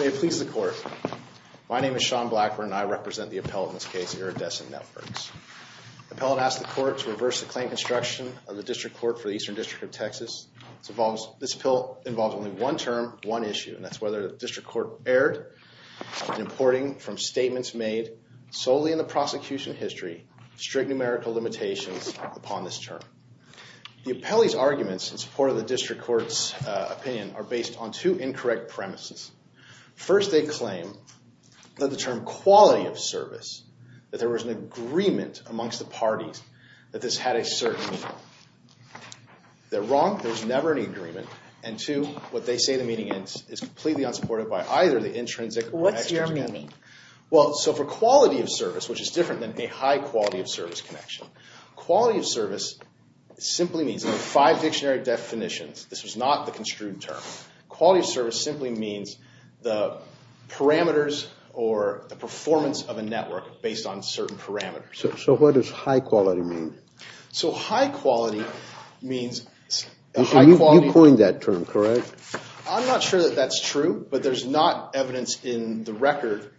May it please the Court, my name is Sean Blackburn and I represent the appellate in this case, Iridescent Networks. The appellate asked the Court to reverse the claim construction of the District Court for the Eastern District of Texas. This bill involves only one term, one issue, and that's whether the District Court erred in importing from statements made solely in the prosecution history of strict numerical limitations upon this term. The appellee's arguments in support of the District Court's opinion are based on two incorrect premises. First, they claim that the term quality of service, that there was an agreement amongst the parties that this had a certain meaning. They're wrong. There's never an agreement. And two, what they say the meaning is is completely unsupported by either the intrinsic or extrinsic. What's your meaning? Well, so for quality of service, which is different than a high quality of service connection, quality of service simply means five dictionary definitions. This was not the construed term. Quality of service simply means the parameters or the performance of a network based on certain parameters. So what does high quality mean? So high quality means... You coined that term, correct? I'm not sure that that's true, but there's not evidence in the record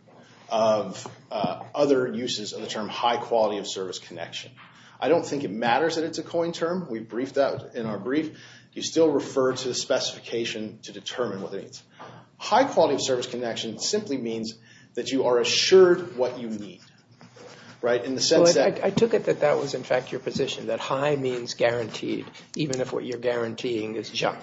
of other uses of the term high quality of service connection. I don't think it matters that it's a coined term. We briefed that in our brief. You still refer to the specification to determine what it means. High quality of service connection simply means that you are assured what you need, right? In the sense that... I took it that that was in fact your position, that high means guaranteed, even if what you're guaranteeing is junk.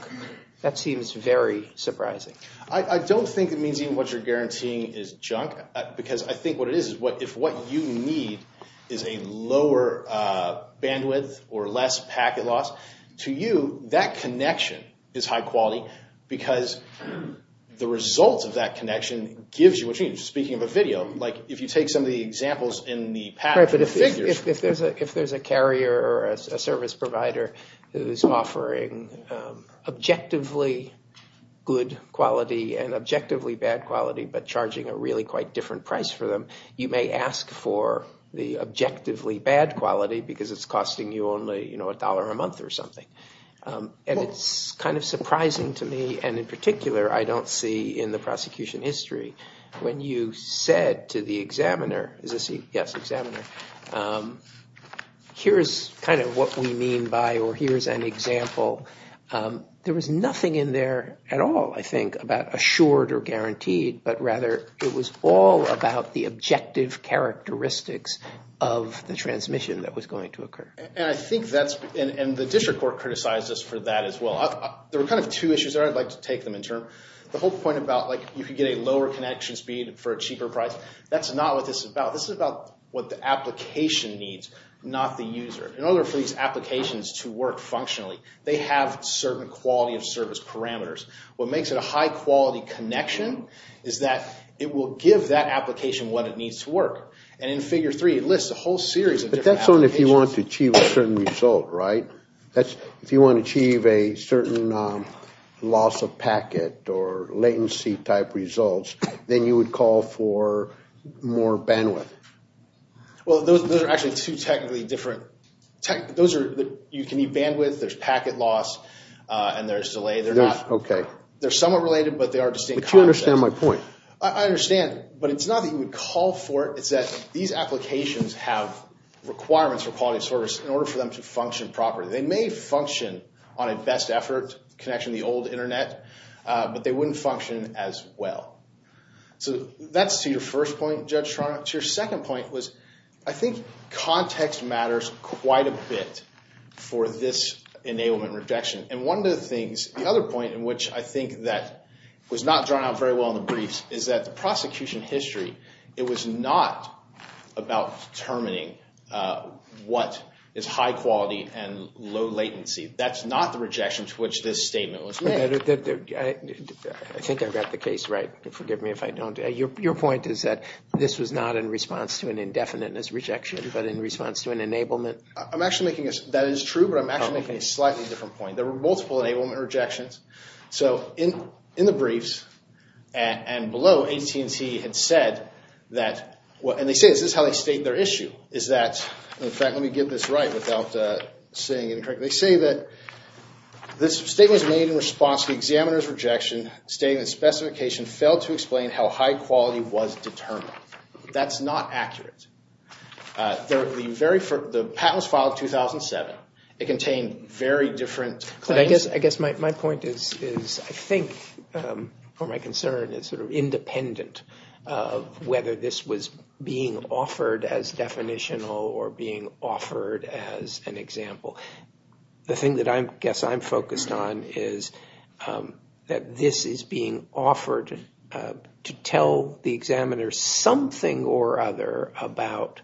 That seems very surprising. I don't think it means even what you're guaranteeing is junk, because I think what it is is if what you need is a lower bandwidth or less packet loss, to you that connection is high quality because the results of that connection gives you what you need. Speaking of a video, like if you take some of the examples in the pattern... Right, but if there's a carrier or a service provider who's offering objectively good quality and objectively bad quality, but charging a really quite different price for them, you may ask for the objectively bad quality because it's costing you only a dollar a month or something. And it's kind of surprising to me, and in particular I don't see in the prosecution history, when you said to the examiner, here's kind of what we mean by or here's an example, there was nothing in there at all I think about assured or guaranteed, but rather it was all about the objective characteristics of the transmission that was going to occur. And I think that's, and the district court criticized us for that as well. There were kind of two issues there, I'd like to take them in turn. The whole point about like you could get a lower connection speed for a cheaper price, that's not what this is about. This is about what the application needs, not the user. In order for these applications to work functionally, they have certain quality of service parameters. What makes it a high quality connection is that it will give that application what it needs to work. And in figure three, it lists a whole series of different applications. But that's only if you want to achieve a certain result, right? If you want to achieve a certain loss of packet or latency type results, then you would call for more bandwidth. Well, those are actually two technically different, those are, you can need bandwidth, there's packet loss, and there's delay. They're not, okay. They're somewhat related, but they are distinct concepts. But you understand my point. I understand, but it's not that you would call for it. It's that these applications have requirements for quality of service in order for them to function properly. They may function on a best effort connection, the old internet, but they wouldn't function as well. So that's to your first point, Judge Toronto. To your second point was, I think context matters quite a bit for this enablement rejection. And one of the things, the other point in which I think that was not drawn out very well in the briefs is that the prosecution history, it was not about determining what is high quality and low latency. That's not the rejection to which this statement was made. I think I got the case right. Forgive me if I don't. Your point is that this was not in response to an indefiniteness rejection, but in response to an enablement. I'm actually making, that is true, but I'm actually making a slightly different point. There were multiple enablement rejections. So in the briefs and below, AT&T had said that, and they say this is how they state their issue, is that, in fact, let me get this right without saying it incorrectly. They say that this statement was made in response to the examiner's rejection, stating the specification failed to explain how high quality was determined. That's not accurate. The patent was filed in 2007. It contained very different claims. I guess my point is, I think, or my concern is sort of independent of whether this was being offered as definitional or being offered as an example. The thing that I guess I'm focused on is that this is being offered to tell the examiner something or other about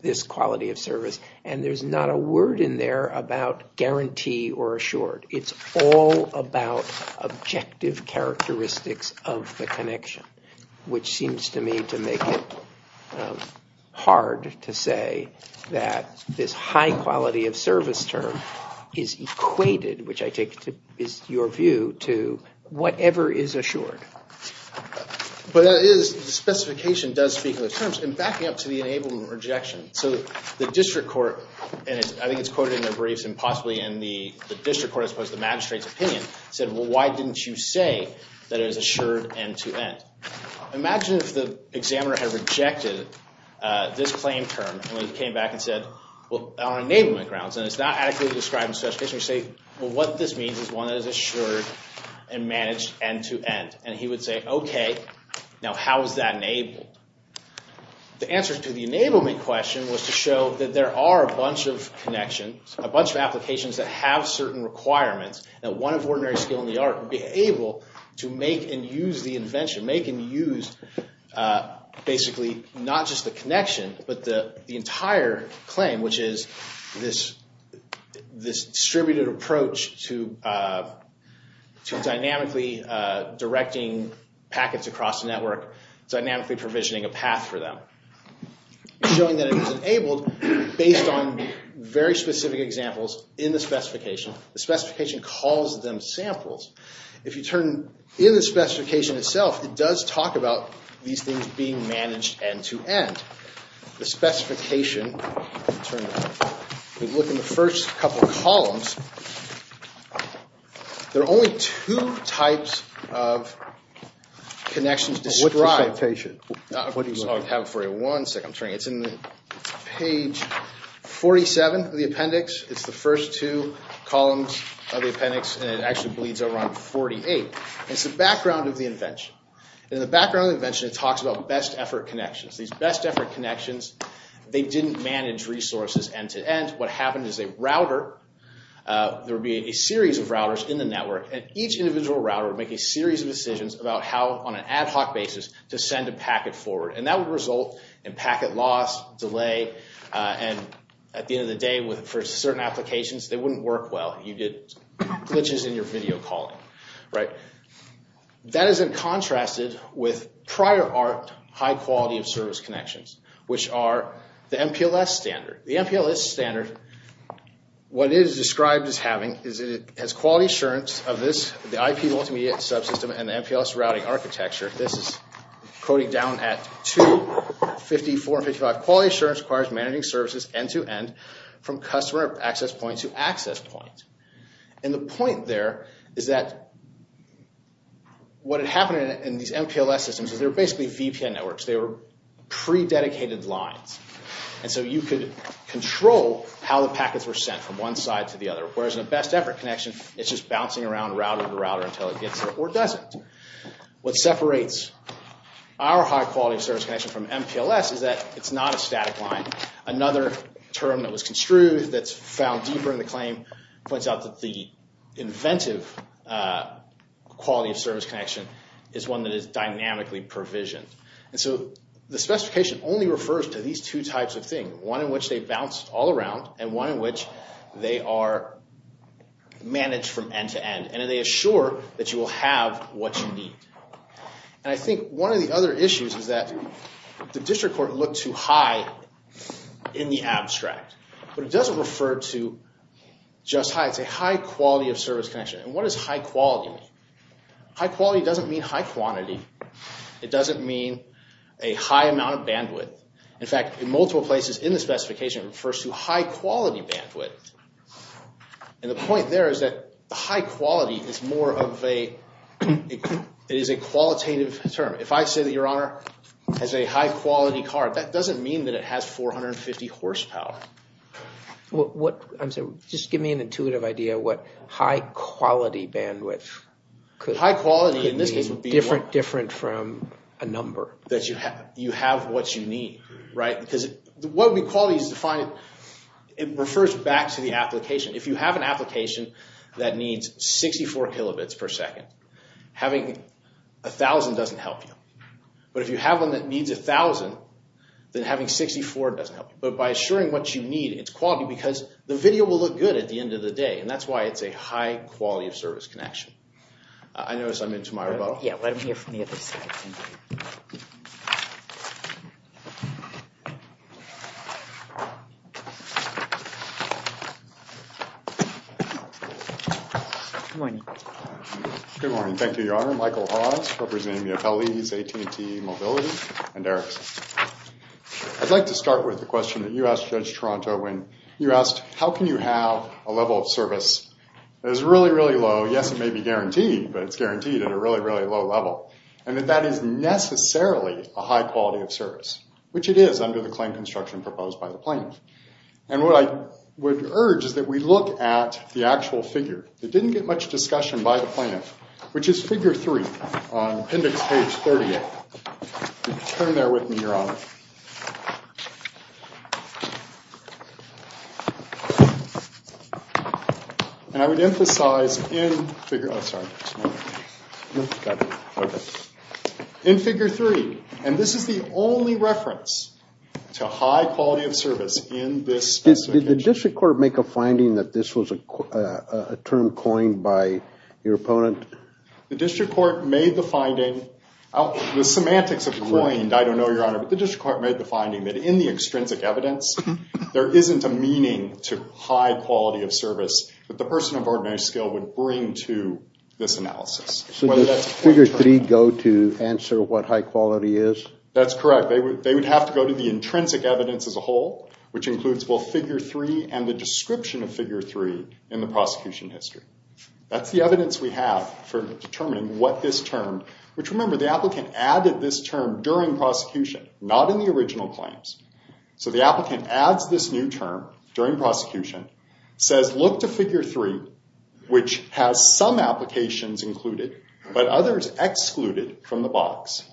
this quality of service, and there's not a word in there about guarantee or assured. It's all about objective characteristics of the connection, which seems to me to make it hard to say that this high quality of service term is equated, which I take is your view, to whatever is assured. But that is, the specification does speak to the terms. Backing up to the enablement rejection, so the district court, and I think it's quoted in their briefs and possibly in the district court as opposed to the magistrate's opinion, said, well, why didn't you say that it was assured end-to-end? Imagine if the examiner had rejected this claim term and they came back and said, well, on enablement grounds, and it's not adequately described in the specification, you say, well, what this means is one that is assured and managed end-to-end. And he would say, OK, now how is that enabled? The answer to the enablement question was to show that there are a bunch of connections, a bunch of applications that have certain requirements that one of ordinary skill in the art would be able to make and use the invention, make and use basically not just the connection but the entire claim, which is this distributed approach to dynamically directing packets across the network, dynamically provisioning a path for them, showing that it was enabled based on very specific examples in the specification. The specification calls them samples. If you turn in the specification itself, it does talk about these things being managed end-to-end. The specification, if you look in the first couple of columns, there are only two types of connections described. It's in page 47 of the appendix. It's the first two columns of the appendix, and it actually bleeds over on 48. It's the background of the invention. In the background of the invention, it talks about best effort connections. These best effort connections, they didn't manage resources end-to-end. What happened is a router, there would be a series of routers in the network, and each individual router would make a series of decisions about how, on an ad hoc basis, to send a packet forward. That would result in packet loss, delay, and at the end of the day, for certain applications, they wouldn't work well. You get glitches in your video calling. That is in contrast with prior art high-quality-of-service connections, which are the MPLS standard. The MPLS standard, what it is described as having is it has quality assurance of this, the IP multimedia subsystem and the MPLS routing architecture. This is coding down at 254 and 255. Quality assurance requires managing services end-to-end from customer access point to access point. The point there is that what had happened in these MPLS systems is they're basically VPN networks. They were prededicated lines. You could control how the packets were sent from one side to the other, whereas in a best effort connection, it's just bouncing around router to router until it gets there or doesn't. What separates our high-quality-of-service connection from MPLS is that it's not a static line. Another term that was construed, that's found deeper in the claim, points out that the inventive quality-of-service connection is one that is dynamically provisioned. The specification only refers to these two types of things, one in which they bounce all around and one in which they are managed from end-to-end. They assure that you will have what you need. I think one of the other issues is that the district court looked too high in the abstract, but it doesn't refer to just high. It's a high-quality-of-service connection. What does high-quality mean? High-quality doesn't mean high quantity. It doesn't mean a high amount of bandwidth. In fact, in multiple places in the specification, it refers to high-quality bandwidth. The point there is that high-quality is a qualitative term. If I say that your Honor has a high-quality car, that doesn't mean that it has 450 horsepower. Just give me an intuitive idea of what high-quality bandwidth could mean. Different from a number. That you have what you need. What we call is defined, it refers back to the application. If you have an application that needs 64 kilobits per second, having 1,000 doesn't help you. But if you have one that needs 1,000, then having 64 doesn't help you. But by assuring what you need, it's quality because the video will look good at the end of the day, and that's why it's a high-quality-of-service connection. I notice I'm into my rebuttal. Yeah, let him hear from the other side. Good morning. Good morning. Thank you, Your Honor. Michael Hawes, representing the Ateliers AT&T Mobility, and Eric. I'd like to start with the question that you asked Judge Toronto when you asked, how can you have a level of service that is really, really low? Yes, it may be guaranteed, but it's guaranteed at a really, really low level. And that that is necessarily a high-quality-of-service, which it is under the claim construction proposed by the plaintiff. And what I would urge is that we look at the actual figure. It didn't get much discussion by the plaintiff, which is figure 3 on appendix page 38. Turn there with me, Your Honor. And I would emphasize in figure 3. And this is the only reference to high-quality-of-service in this specific case. Did the district court make a finding that this was a term coined by your opponent? The district court made the finding. The semantics of coined, I don't know, Your Honor, but the district court made the finding that in the extrinsic evidence, there isn't a meaning to high-quality-of-service that the person of ordinary skill would bring to this analysis. So does figure 3 go to answer what high-quality is? That's correct. They would have to go to the intrinsic evidence as a whole, which includes both figure 3 and the description of figure 3 in the prosecution history. That's the evidence we have for determining what this term, which remember the applicant added this term during prosecution, not in the original claims. So the applicant adds this new term during prosecution, says look to figure 3, which has some applications included, but others excluded from the box.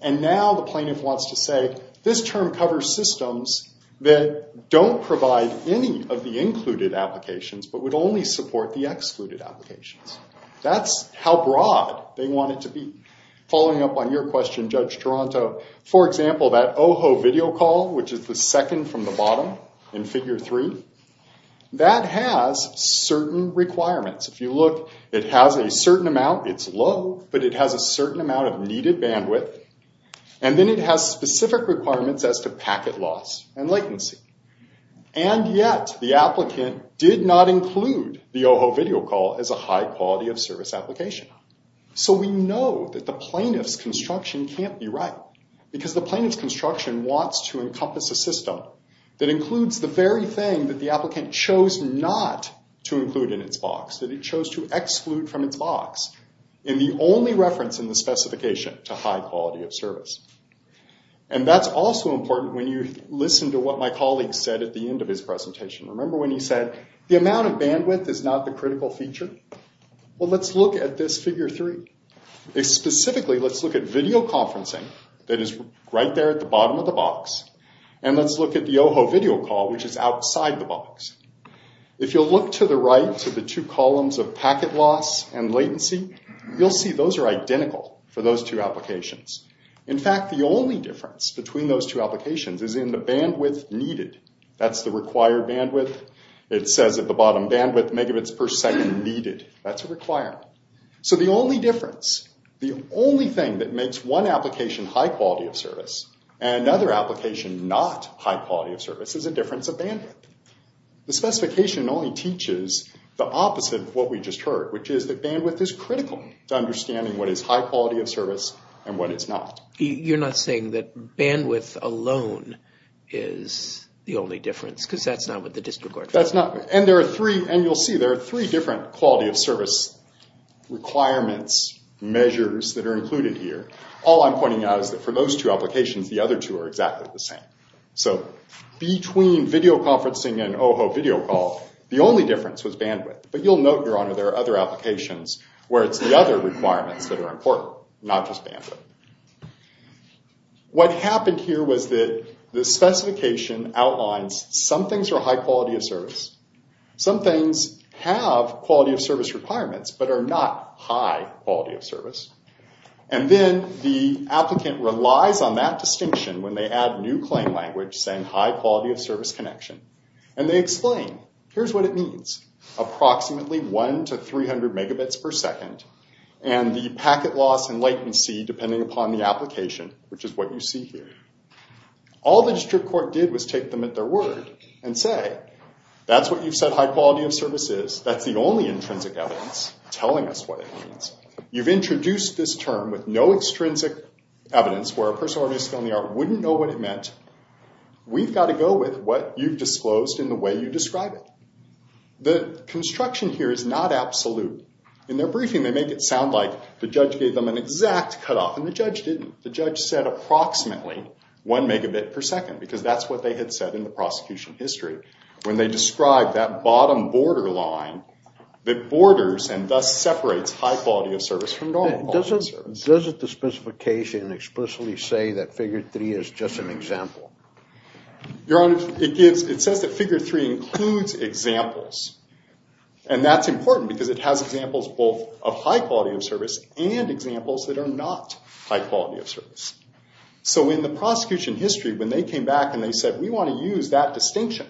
And now the plaintiff wants to say, this term covers systems that don't provide any of the included applications, but would only support the excluded applications. That's how broad they want it to be. Following up on your question, Judge Toronto, for example, that OHO video call, which is the second from the bottom in figure 3, that has certain requirements. If you look, it has a certain amount. It's low, but it has a certain amount of needed bandwidth. And then it has specific requirements as to packet loss and latency. And yet the applicant did not include the OHO video call as a high-quality-of-service application. So we know that the plaintiff's construction can't be right, because the plaintiff's construction wants to encompass a system that includes the very thing that the applicant chose not to include in its box, that it chose to exclude from its box, in the only reference in the specification to high-quality-of-service. And that's also important when you listen to what my colleague said at the end of his presentation. Remember when he said the amount of bandwidth is not the critical feature? Well, let's look at this figure 3. Specifically, let's look at video conferencing that is right there at the bottom of the box. And let's look at the OHO video call, which is outside the box. If you'll look to the right to the two columns of packet loss and latency, you'll see those are identical for those two applications. In fact, the only difference between those two applications is in the bandwidth needed. That's the required bandwidth. It says at the bottom, bandwidth megabits per second needed. That's a requirement. So the only difference, the only thing that makes one application high-quality-of-service and another application not high-quality-of-service is a difference of bandwidth. The specification only teaches the opposite of what we just heard, which is that bandwidth is critical to understanding what is high-quality-of-service and what is not. You're not saying that bandwidth alone is the only difference, because that's not what the District Court found. And you'll see there are three different quality-of-service requirements, measures that are included here. All I'm pointing out is that for those two applications, the other two are exactly the same. So between video conferencing and OHO video call, the only difference was bandwidth. But you'll note, Your Honor, there are other applications where it's the other requirements that are important, not just bandwidth. What happened here was that the specification outlines some things are high-quality-of-service. Some things have quality-of-service requirements, but are not high-quality-of-service. And then the applicant relies on that distinction when they add new claim language saying high-quality-of-service connection. And they explain, here's what it means. Approximately 1 to 300 megabits per second. And the packet loss and latency, depending upon the application, which is what you see here. All the District Court did was take them at their word and say, that's what you've said high-quality-of-service is. That's the only intrinsic evidence telling us what it means. You've introduced this term with no extrinsic evidence, where a person already skilled in the art wouldn't know what it meant. We've got to go with what you've disclosed in the way you describe it. The construction here is not absolute. In their briefing, they make it sound like the judge gave them an exact cutoff, and the judge didn't. The judge said approximately 1 megabit per second, because that's what they had said in the prosecution history. When they describe that bottom borderline that borders and thus separates high-quality-of-service from normal quality-of-service. Does the specification explicitly say that Figure 3 is just an example? Your Honor, it says that Figure 3 includes examples. That's important, because it has examples both of high-quality-of-service and examples that are not high-quality-of-service. In the prosecution history, when they came back and said, we want to use that distinction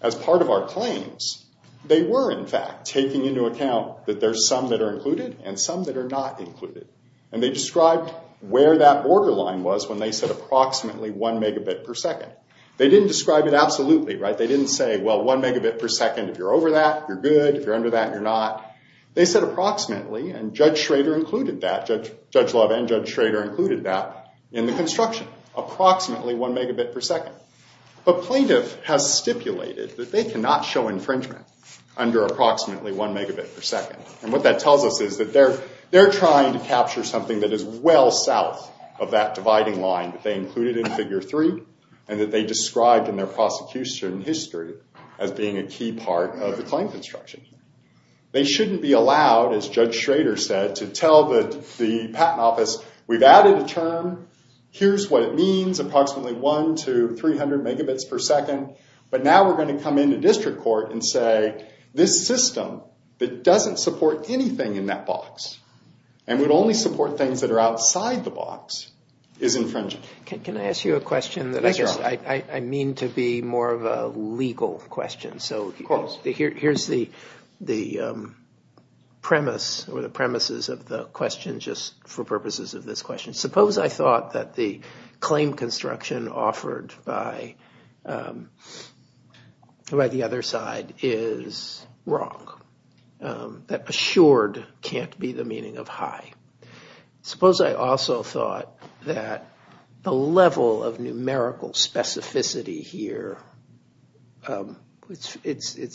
as part of our claims, they were, in fact, taking into account that there are some that are included and some that are not included. They described where that borderline was when they said approximately 1 megabit per second. They didn't describe it absolutely. They didn't say, well, 1 megabit per second, if you're over that, you're good. If you're under that, you're not. They said approximately, and Judge Love and Judge Schrader included that in the construction. Approximately 1 megabit per second. But plaintiff has stipulated that they cannot show infringement under approximately 1 megabit per second. And what that tells us is that they're trying to capture something that is well south of that dividing line that they included in Figure 3, and that they described in their prosecution history as being a key part of the claim construction. They shouldn't be allowed, as Judge Schrader said, to tell the Patent Office, we've added a term. Here's what it means, approximately 1 to 300 megabits per second. But now we're going to come into district court and say, this system that doesn't support anything in that box, and would only support things that are outside the box, is infringing. Can I ask you a question that I guess I mean to be more of a legal question? Of course. Here's the premise or the premises of the question just for purposes of this question. Suppose I thought that the claim construction offered by the other side is wrong, that assured can't be the meaning of high. Suppose I also thought that the level of numerical specificity here, it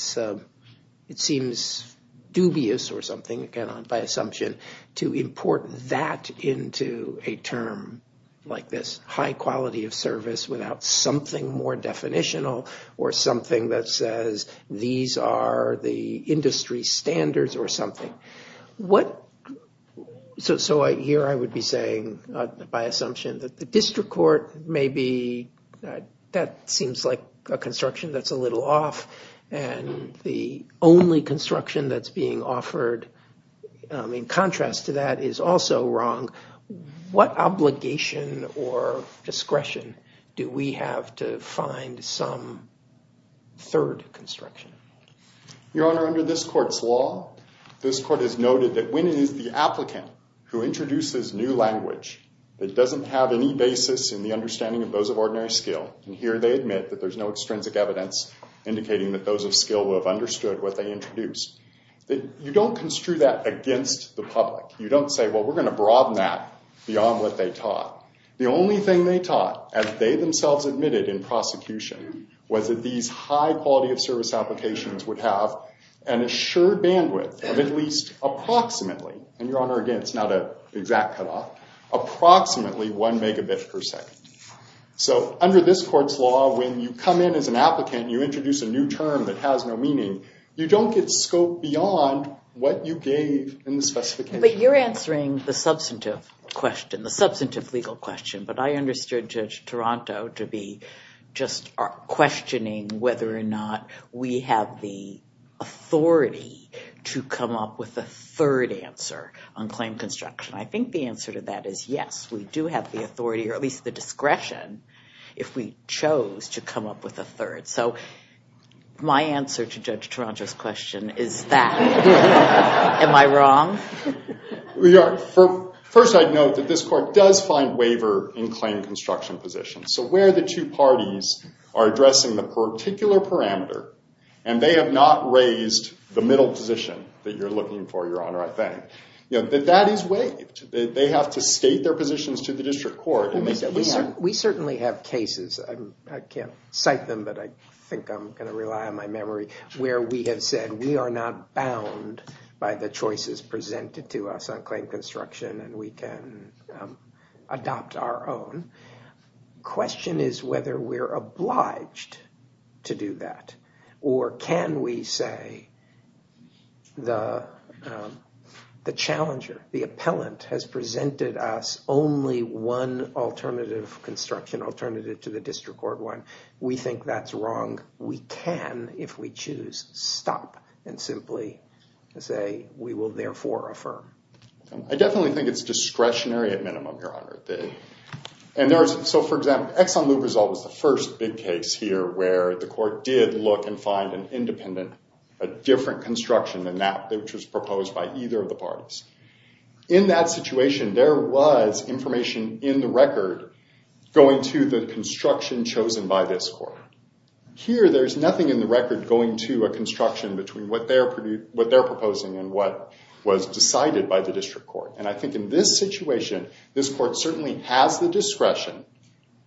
seems dubious or something by assumption to import that into a term like this, high quality of service without something more definitional, or something that says these are the industry standards or something. So here I would be saying by assumption that the district court may be, that seems like a construction that's a little off, and the only construction that's being offered in contrast to that is also wrong. What obligation or discretion do we have to find some third construction? Your Honor, under this court's law, this court has noted that when it is the applicant who introduces new language that doesn't have any basis in the understanding of those of ordinary skill, and here they admit that there's no extrinsic evidence indicating that those of skill would have understood what they introduced, that you don't construe that against the public. You don't say, well, we're going to broaden that beyond what they taught. The only thing they taught, as they themselves admitted in prosecution, was that these high quality of service applications would have an assured bandwidth of at least approximately, and Your Honor, again, it's not an exact cutoff, approximately one megabit per second. So under this court's law, when you come in as an applicant, you introduce a new term that has no meaning, you don't get scope beyond what you gave in the specification. But you're answering the substantive question, the substantive legal question, but I understood Judge Taranto to be just questioning whether or not we have the authority to come up with a third answer on claim construction. I think the answer to that is yes, we do have the authority, or at least the discretion, if we chose to come up with a third. So my answer to Judge Taranto's question is that. Am I wrong? First, I'd note that this court does find waiver in claim construction positions. So where the two parties are addressing the particular parameter, and they have not raised the middle position that you're looking for, Your Honor, I think. That is waived. They have to state their positions to the district court. We certainly have cases, I can't cite them, but I think I'm going to rely on my memory, where we have said we are not bound by the choices presented to us on claim construction, and we can adopt our own. The question is whether we're obliged to do that, or can we say the challenger, the appellant, has presented us only one alternative construction, alternative to the district court one. We think that's wrong. We can, if we choose, stop and simply say we will therefore affirm. I definitely think it's discretionary at minimum, Your Honor. So for example, ExxonMobil was always the first big case here where the court did look and find an independent, a different construction than that which was proposed by either of the parties. In that situation, there was information in the record going to the construction chosen by this court. Here, there's nothing in the record going to a construction between what they're proposing and what was decided by the district court. And I think in this situation, this court certainly has the discretion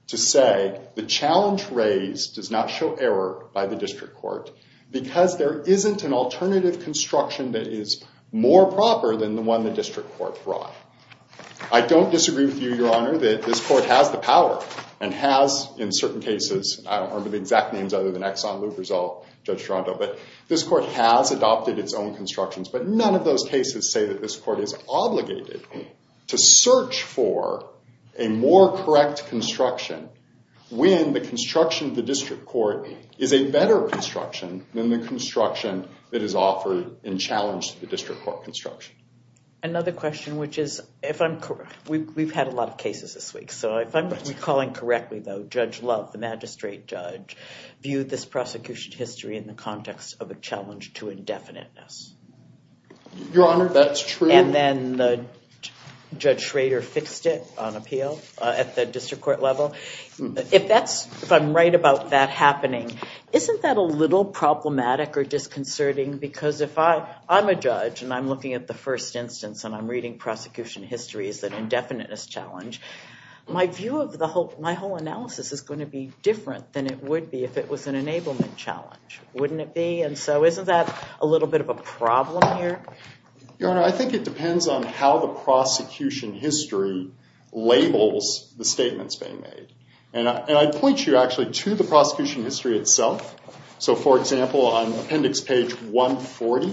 to say the challenge raised does not show error by the district court because there isn't an alternative construction that is more proper than the one the district court brought. I don't disagree with you, Your Honor, that this court has the power and has, in certain cases, I don't remember the exact names other than Exxon, Lubrizol, Judge Toronto, but this court has adopted its own constructions. But none of those cases say that this court is obligated to search for a more correct construction when the construction of the district court is a better construction than the construction that is offered in challenge to the district court construction. Another question, which is, we've had a lot of cases this week, so if I'm recalling correctly, though, Judge Love, the magistrate judge, viewed this prosecution history in the context of a challenge to indefiniteness. Your Honor, that's true. And then Judge Schrader fixed it on appeal at the district court level. If I'm right about that happening, isn't that a little problematic or disconcerting? Because if I'm a judge and I'm looking at the first instance and I'm reading prosecution history as an indefiniteness challenge, my view of my whole analysis is going to be different than it would be if it was an enablement challenge, wouldn't it be? And so isn't that a little bit of a problem here? Your Honor, I think it depends on how the prosecution history labels the statements being made. And I'd point you actually to the prosecution history itself. So, for example, on appendix page 140,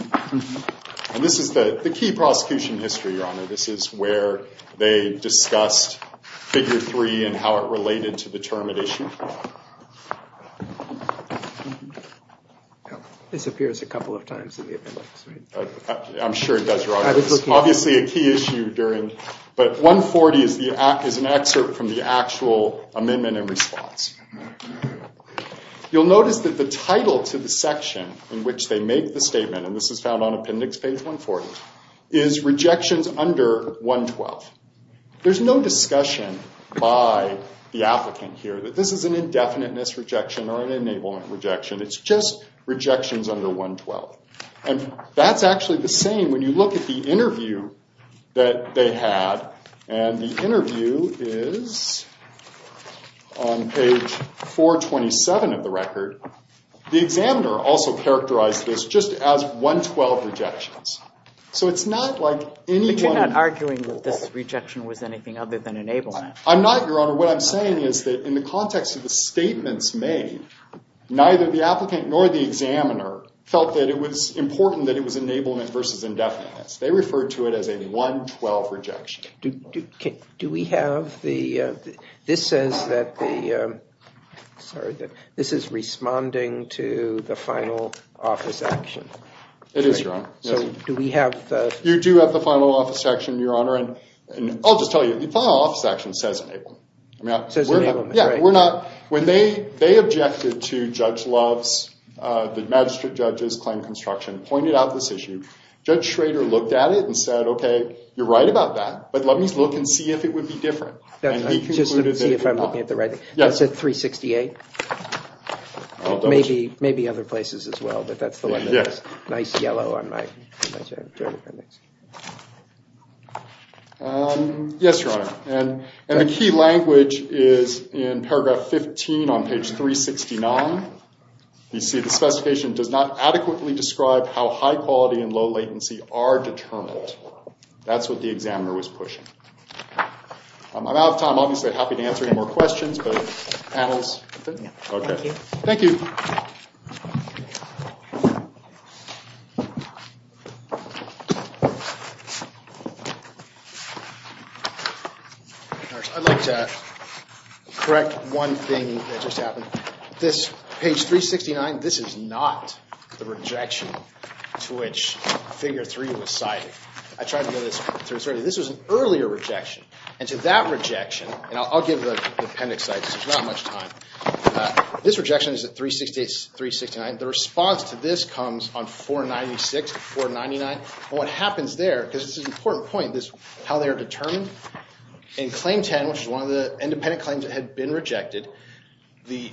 and this is the key prosecution history, Your Honor. This is where they discussed figure three and how it related to the termination. This appears a couple of times in the appendix, right? I'm sure it does, Your Honor. Obviously a key issue during, but 140 is an excerpt from the actual amendment in response. You'll notice that the title to the section in which they make the statement, and this is found on appendix page 140, is rejections under 112. There's no discussion by the applicant here that this is an indefiniteness rejection or an enablement rejection. It's just rejections under 112. And that's actually the same when you look at the interview that they had. And the interview is on page 427 of the record. The examiner also characterized this just as 112 rejections. So it's not like anyone— But you're not arguing that this rejection was anything other than enablement. I'm not, Your Honor. What I'm saying is that in the context of the statements made, neither the applicant nor the examiner felt that it was important that it was enablement versus indefiniteness. They referred to it as a 112 rejection. Do we have the— This says that the— Sorry. This is responding to the final office action. It is, Your Honor. So do we have the— You do have the final office action, Your Honor. And I'll just tell you, the final office action says enablement. It says enablement, right. Yeah, we're not— When they objected to Judge Love's—the magistrate judge's claim construction pointed out this issue, Judge Schrader looked at it and said, okay, you're right about that, but let me look and see if it would be different. And he concluded that it was not. Just to see if I'm looking at the right— Yes. That's at 368. I'll double check. Maybe other places as well, but that's the one that has nice yellow on my— Yes, Your Honor. And the key language is in paragraph 15 on page 369. You see, the specification does not adequately describe how high quality and low latency are determined. That's what the examiner was pushing. I'm out of time. Obviously, I'd be happy to answer any more questions, but panels— Thank you. Thank you. I'd like to correct one thing that just happened. This—page 369, this is not the rejection to which figure 3 was cited. I tried to get this—this was an earlier rejection. And to that rejection—and I'll give the appendix, so there's not much time for that. This rejection is at 368, 369. The response to this comes on 496, 499. And what happens there, because this is an important point, is how they are determined. In claim 10, which is one of the independent claims that had been rejected, the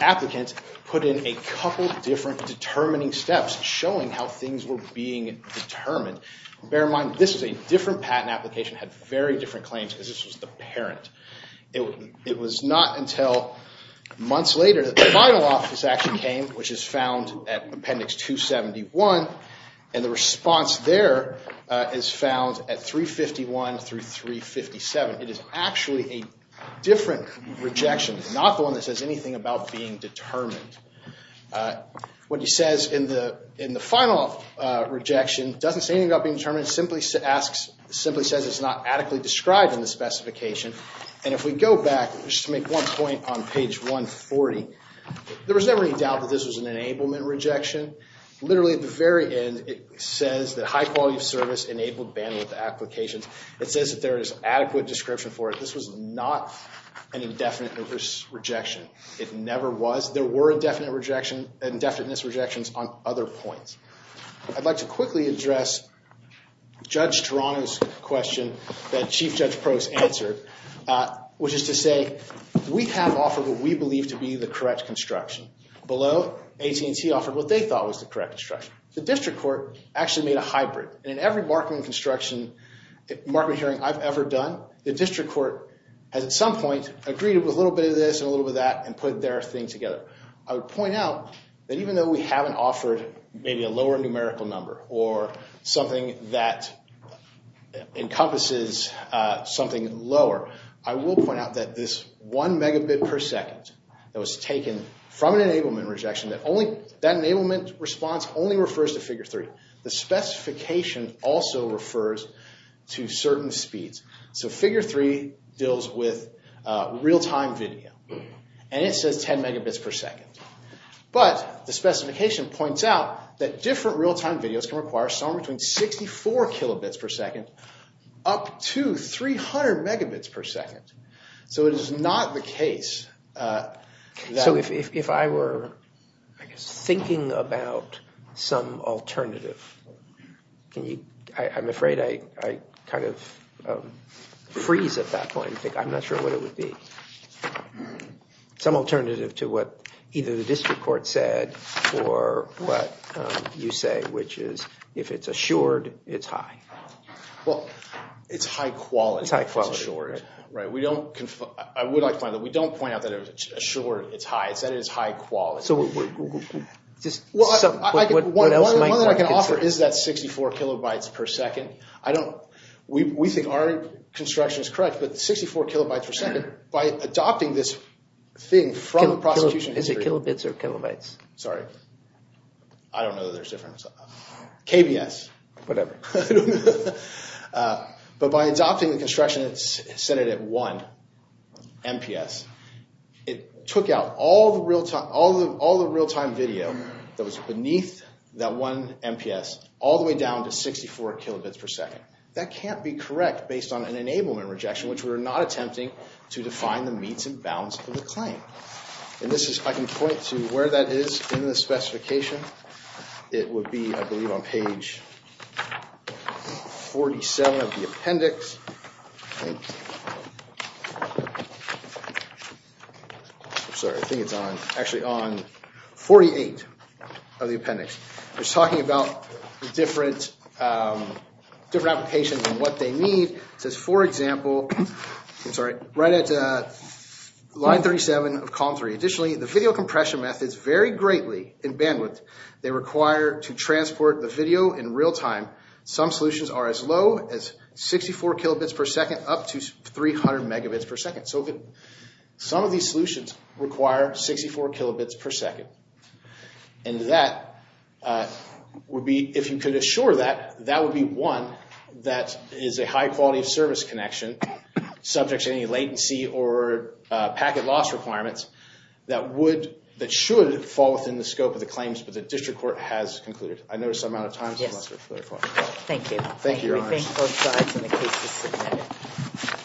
applicant put in a couple different determining steps showing how things were being determined. Bear in mind, this is a different patent application. It had very different claims because this was the parent. It was not until months later that the final office action came, which is found at appendix 271. And the response there is found at 351 through 357. It is actually a different rejection. It's not the one that says anything about being determined. What it says in the final rejection doesn't say anything about being determined. It simply says it's not adequately described in the specification. And if we go back, just to make one point on page 140, there was never any doubt that this was an enablement rejection. Literally at the very end, it says that high-quality service enabled bandwidth applications. It says that there is adequate description for it. This was not an indefinite rejection. It never was. There were indefinite rejections on other points. I'd like to quickly address Judge Toronto's question that Chief Judge Probst answered, which is to say, we have offered what we believe to be the correct construction. Below, AT&T offered what they thought was the correct construction. The district court actually made a hybrid. And in every Markman construction, Markman hearing I've ever done, the district court has at some point agreed with a little bit of this and a little bit of that and put their thing together. I would point out that even though we haven't offered maybe a lower numerical number or something that encompasses something lower, I will point out that this one megabit per second that was taken from an enablement rejection, that enablement response only refers to figure three. The specification also refers to certain speeds. So figure three deals with real-time video. And it says 10 megabits per second. But the specification points out that different real-time videos can require somewhere between 64 kilobits per second up to 300 megabits per second. So it is not the case. So if I were thinking about some alternative, I'm afraid I kind of freeze at that point. I'm not sure what it would be. Some alternative to what either the district court said or what you say, which is if it's assured, it's high. Well, it's high quality. It's high quality. I would like to point out that we don't point out that it's assured. It's high. It's high quality. One thing I can offer is that 64 kilobytes per second. We think our construction is correct. But 64 kilobytes per second, by adopting this thing from the prosecution history. Is it kilobits or kilobytes? Sorry. I don't know that there's a difference. KBS. Whatever. But by adopting the construction, it's set it at one MPS. It took out all the real-time video that was beneath that one MPS all the way down to 64 kilobits per second. That can't be correct based on an enablement rejection, which we're not attempting to define the meets and bounds of the claim. And this is, I can point to where that is in the specification. It would be, I believe, on page 47 of the appendix. I'm sorry. I think it's on. Actually, on 48 of the appendix. It's talking about different applications and what they need. It says, for example, right at line 37 of column 3. Additionally, the video compression methods vary greatly in bandwidth. They require to transport the video in real time. Some solutions are as low as 64 kilobits per second up to 300 megabits per second. So some of these solutions require 64 kilobits per second. And that would be, if you could assure that, that would be one that is a high-quality-of-service connection subject to any latency or packet loss requirements. That should fall within the scope of the claims, but the district court has concluded. I noticed the amount of time. Yes. Thank you. Thank you, Your Honors. We thank both sides, and the case is submitted.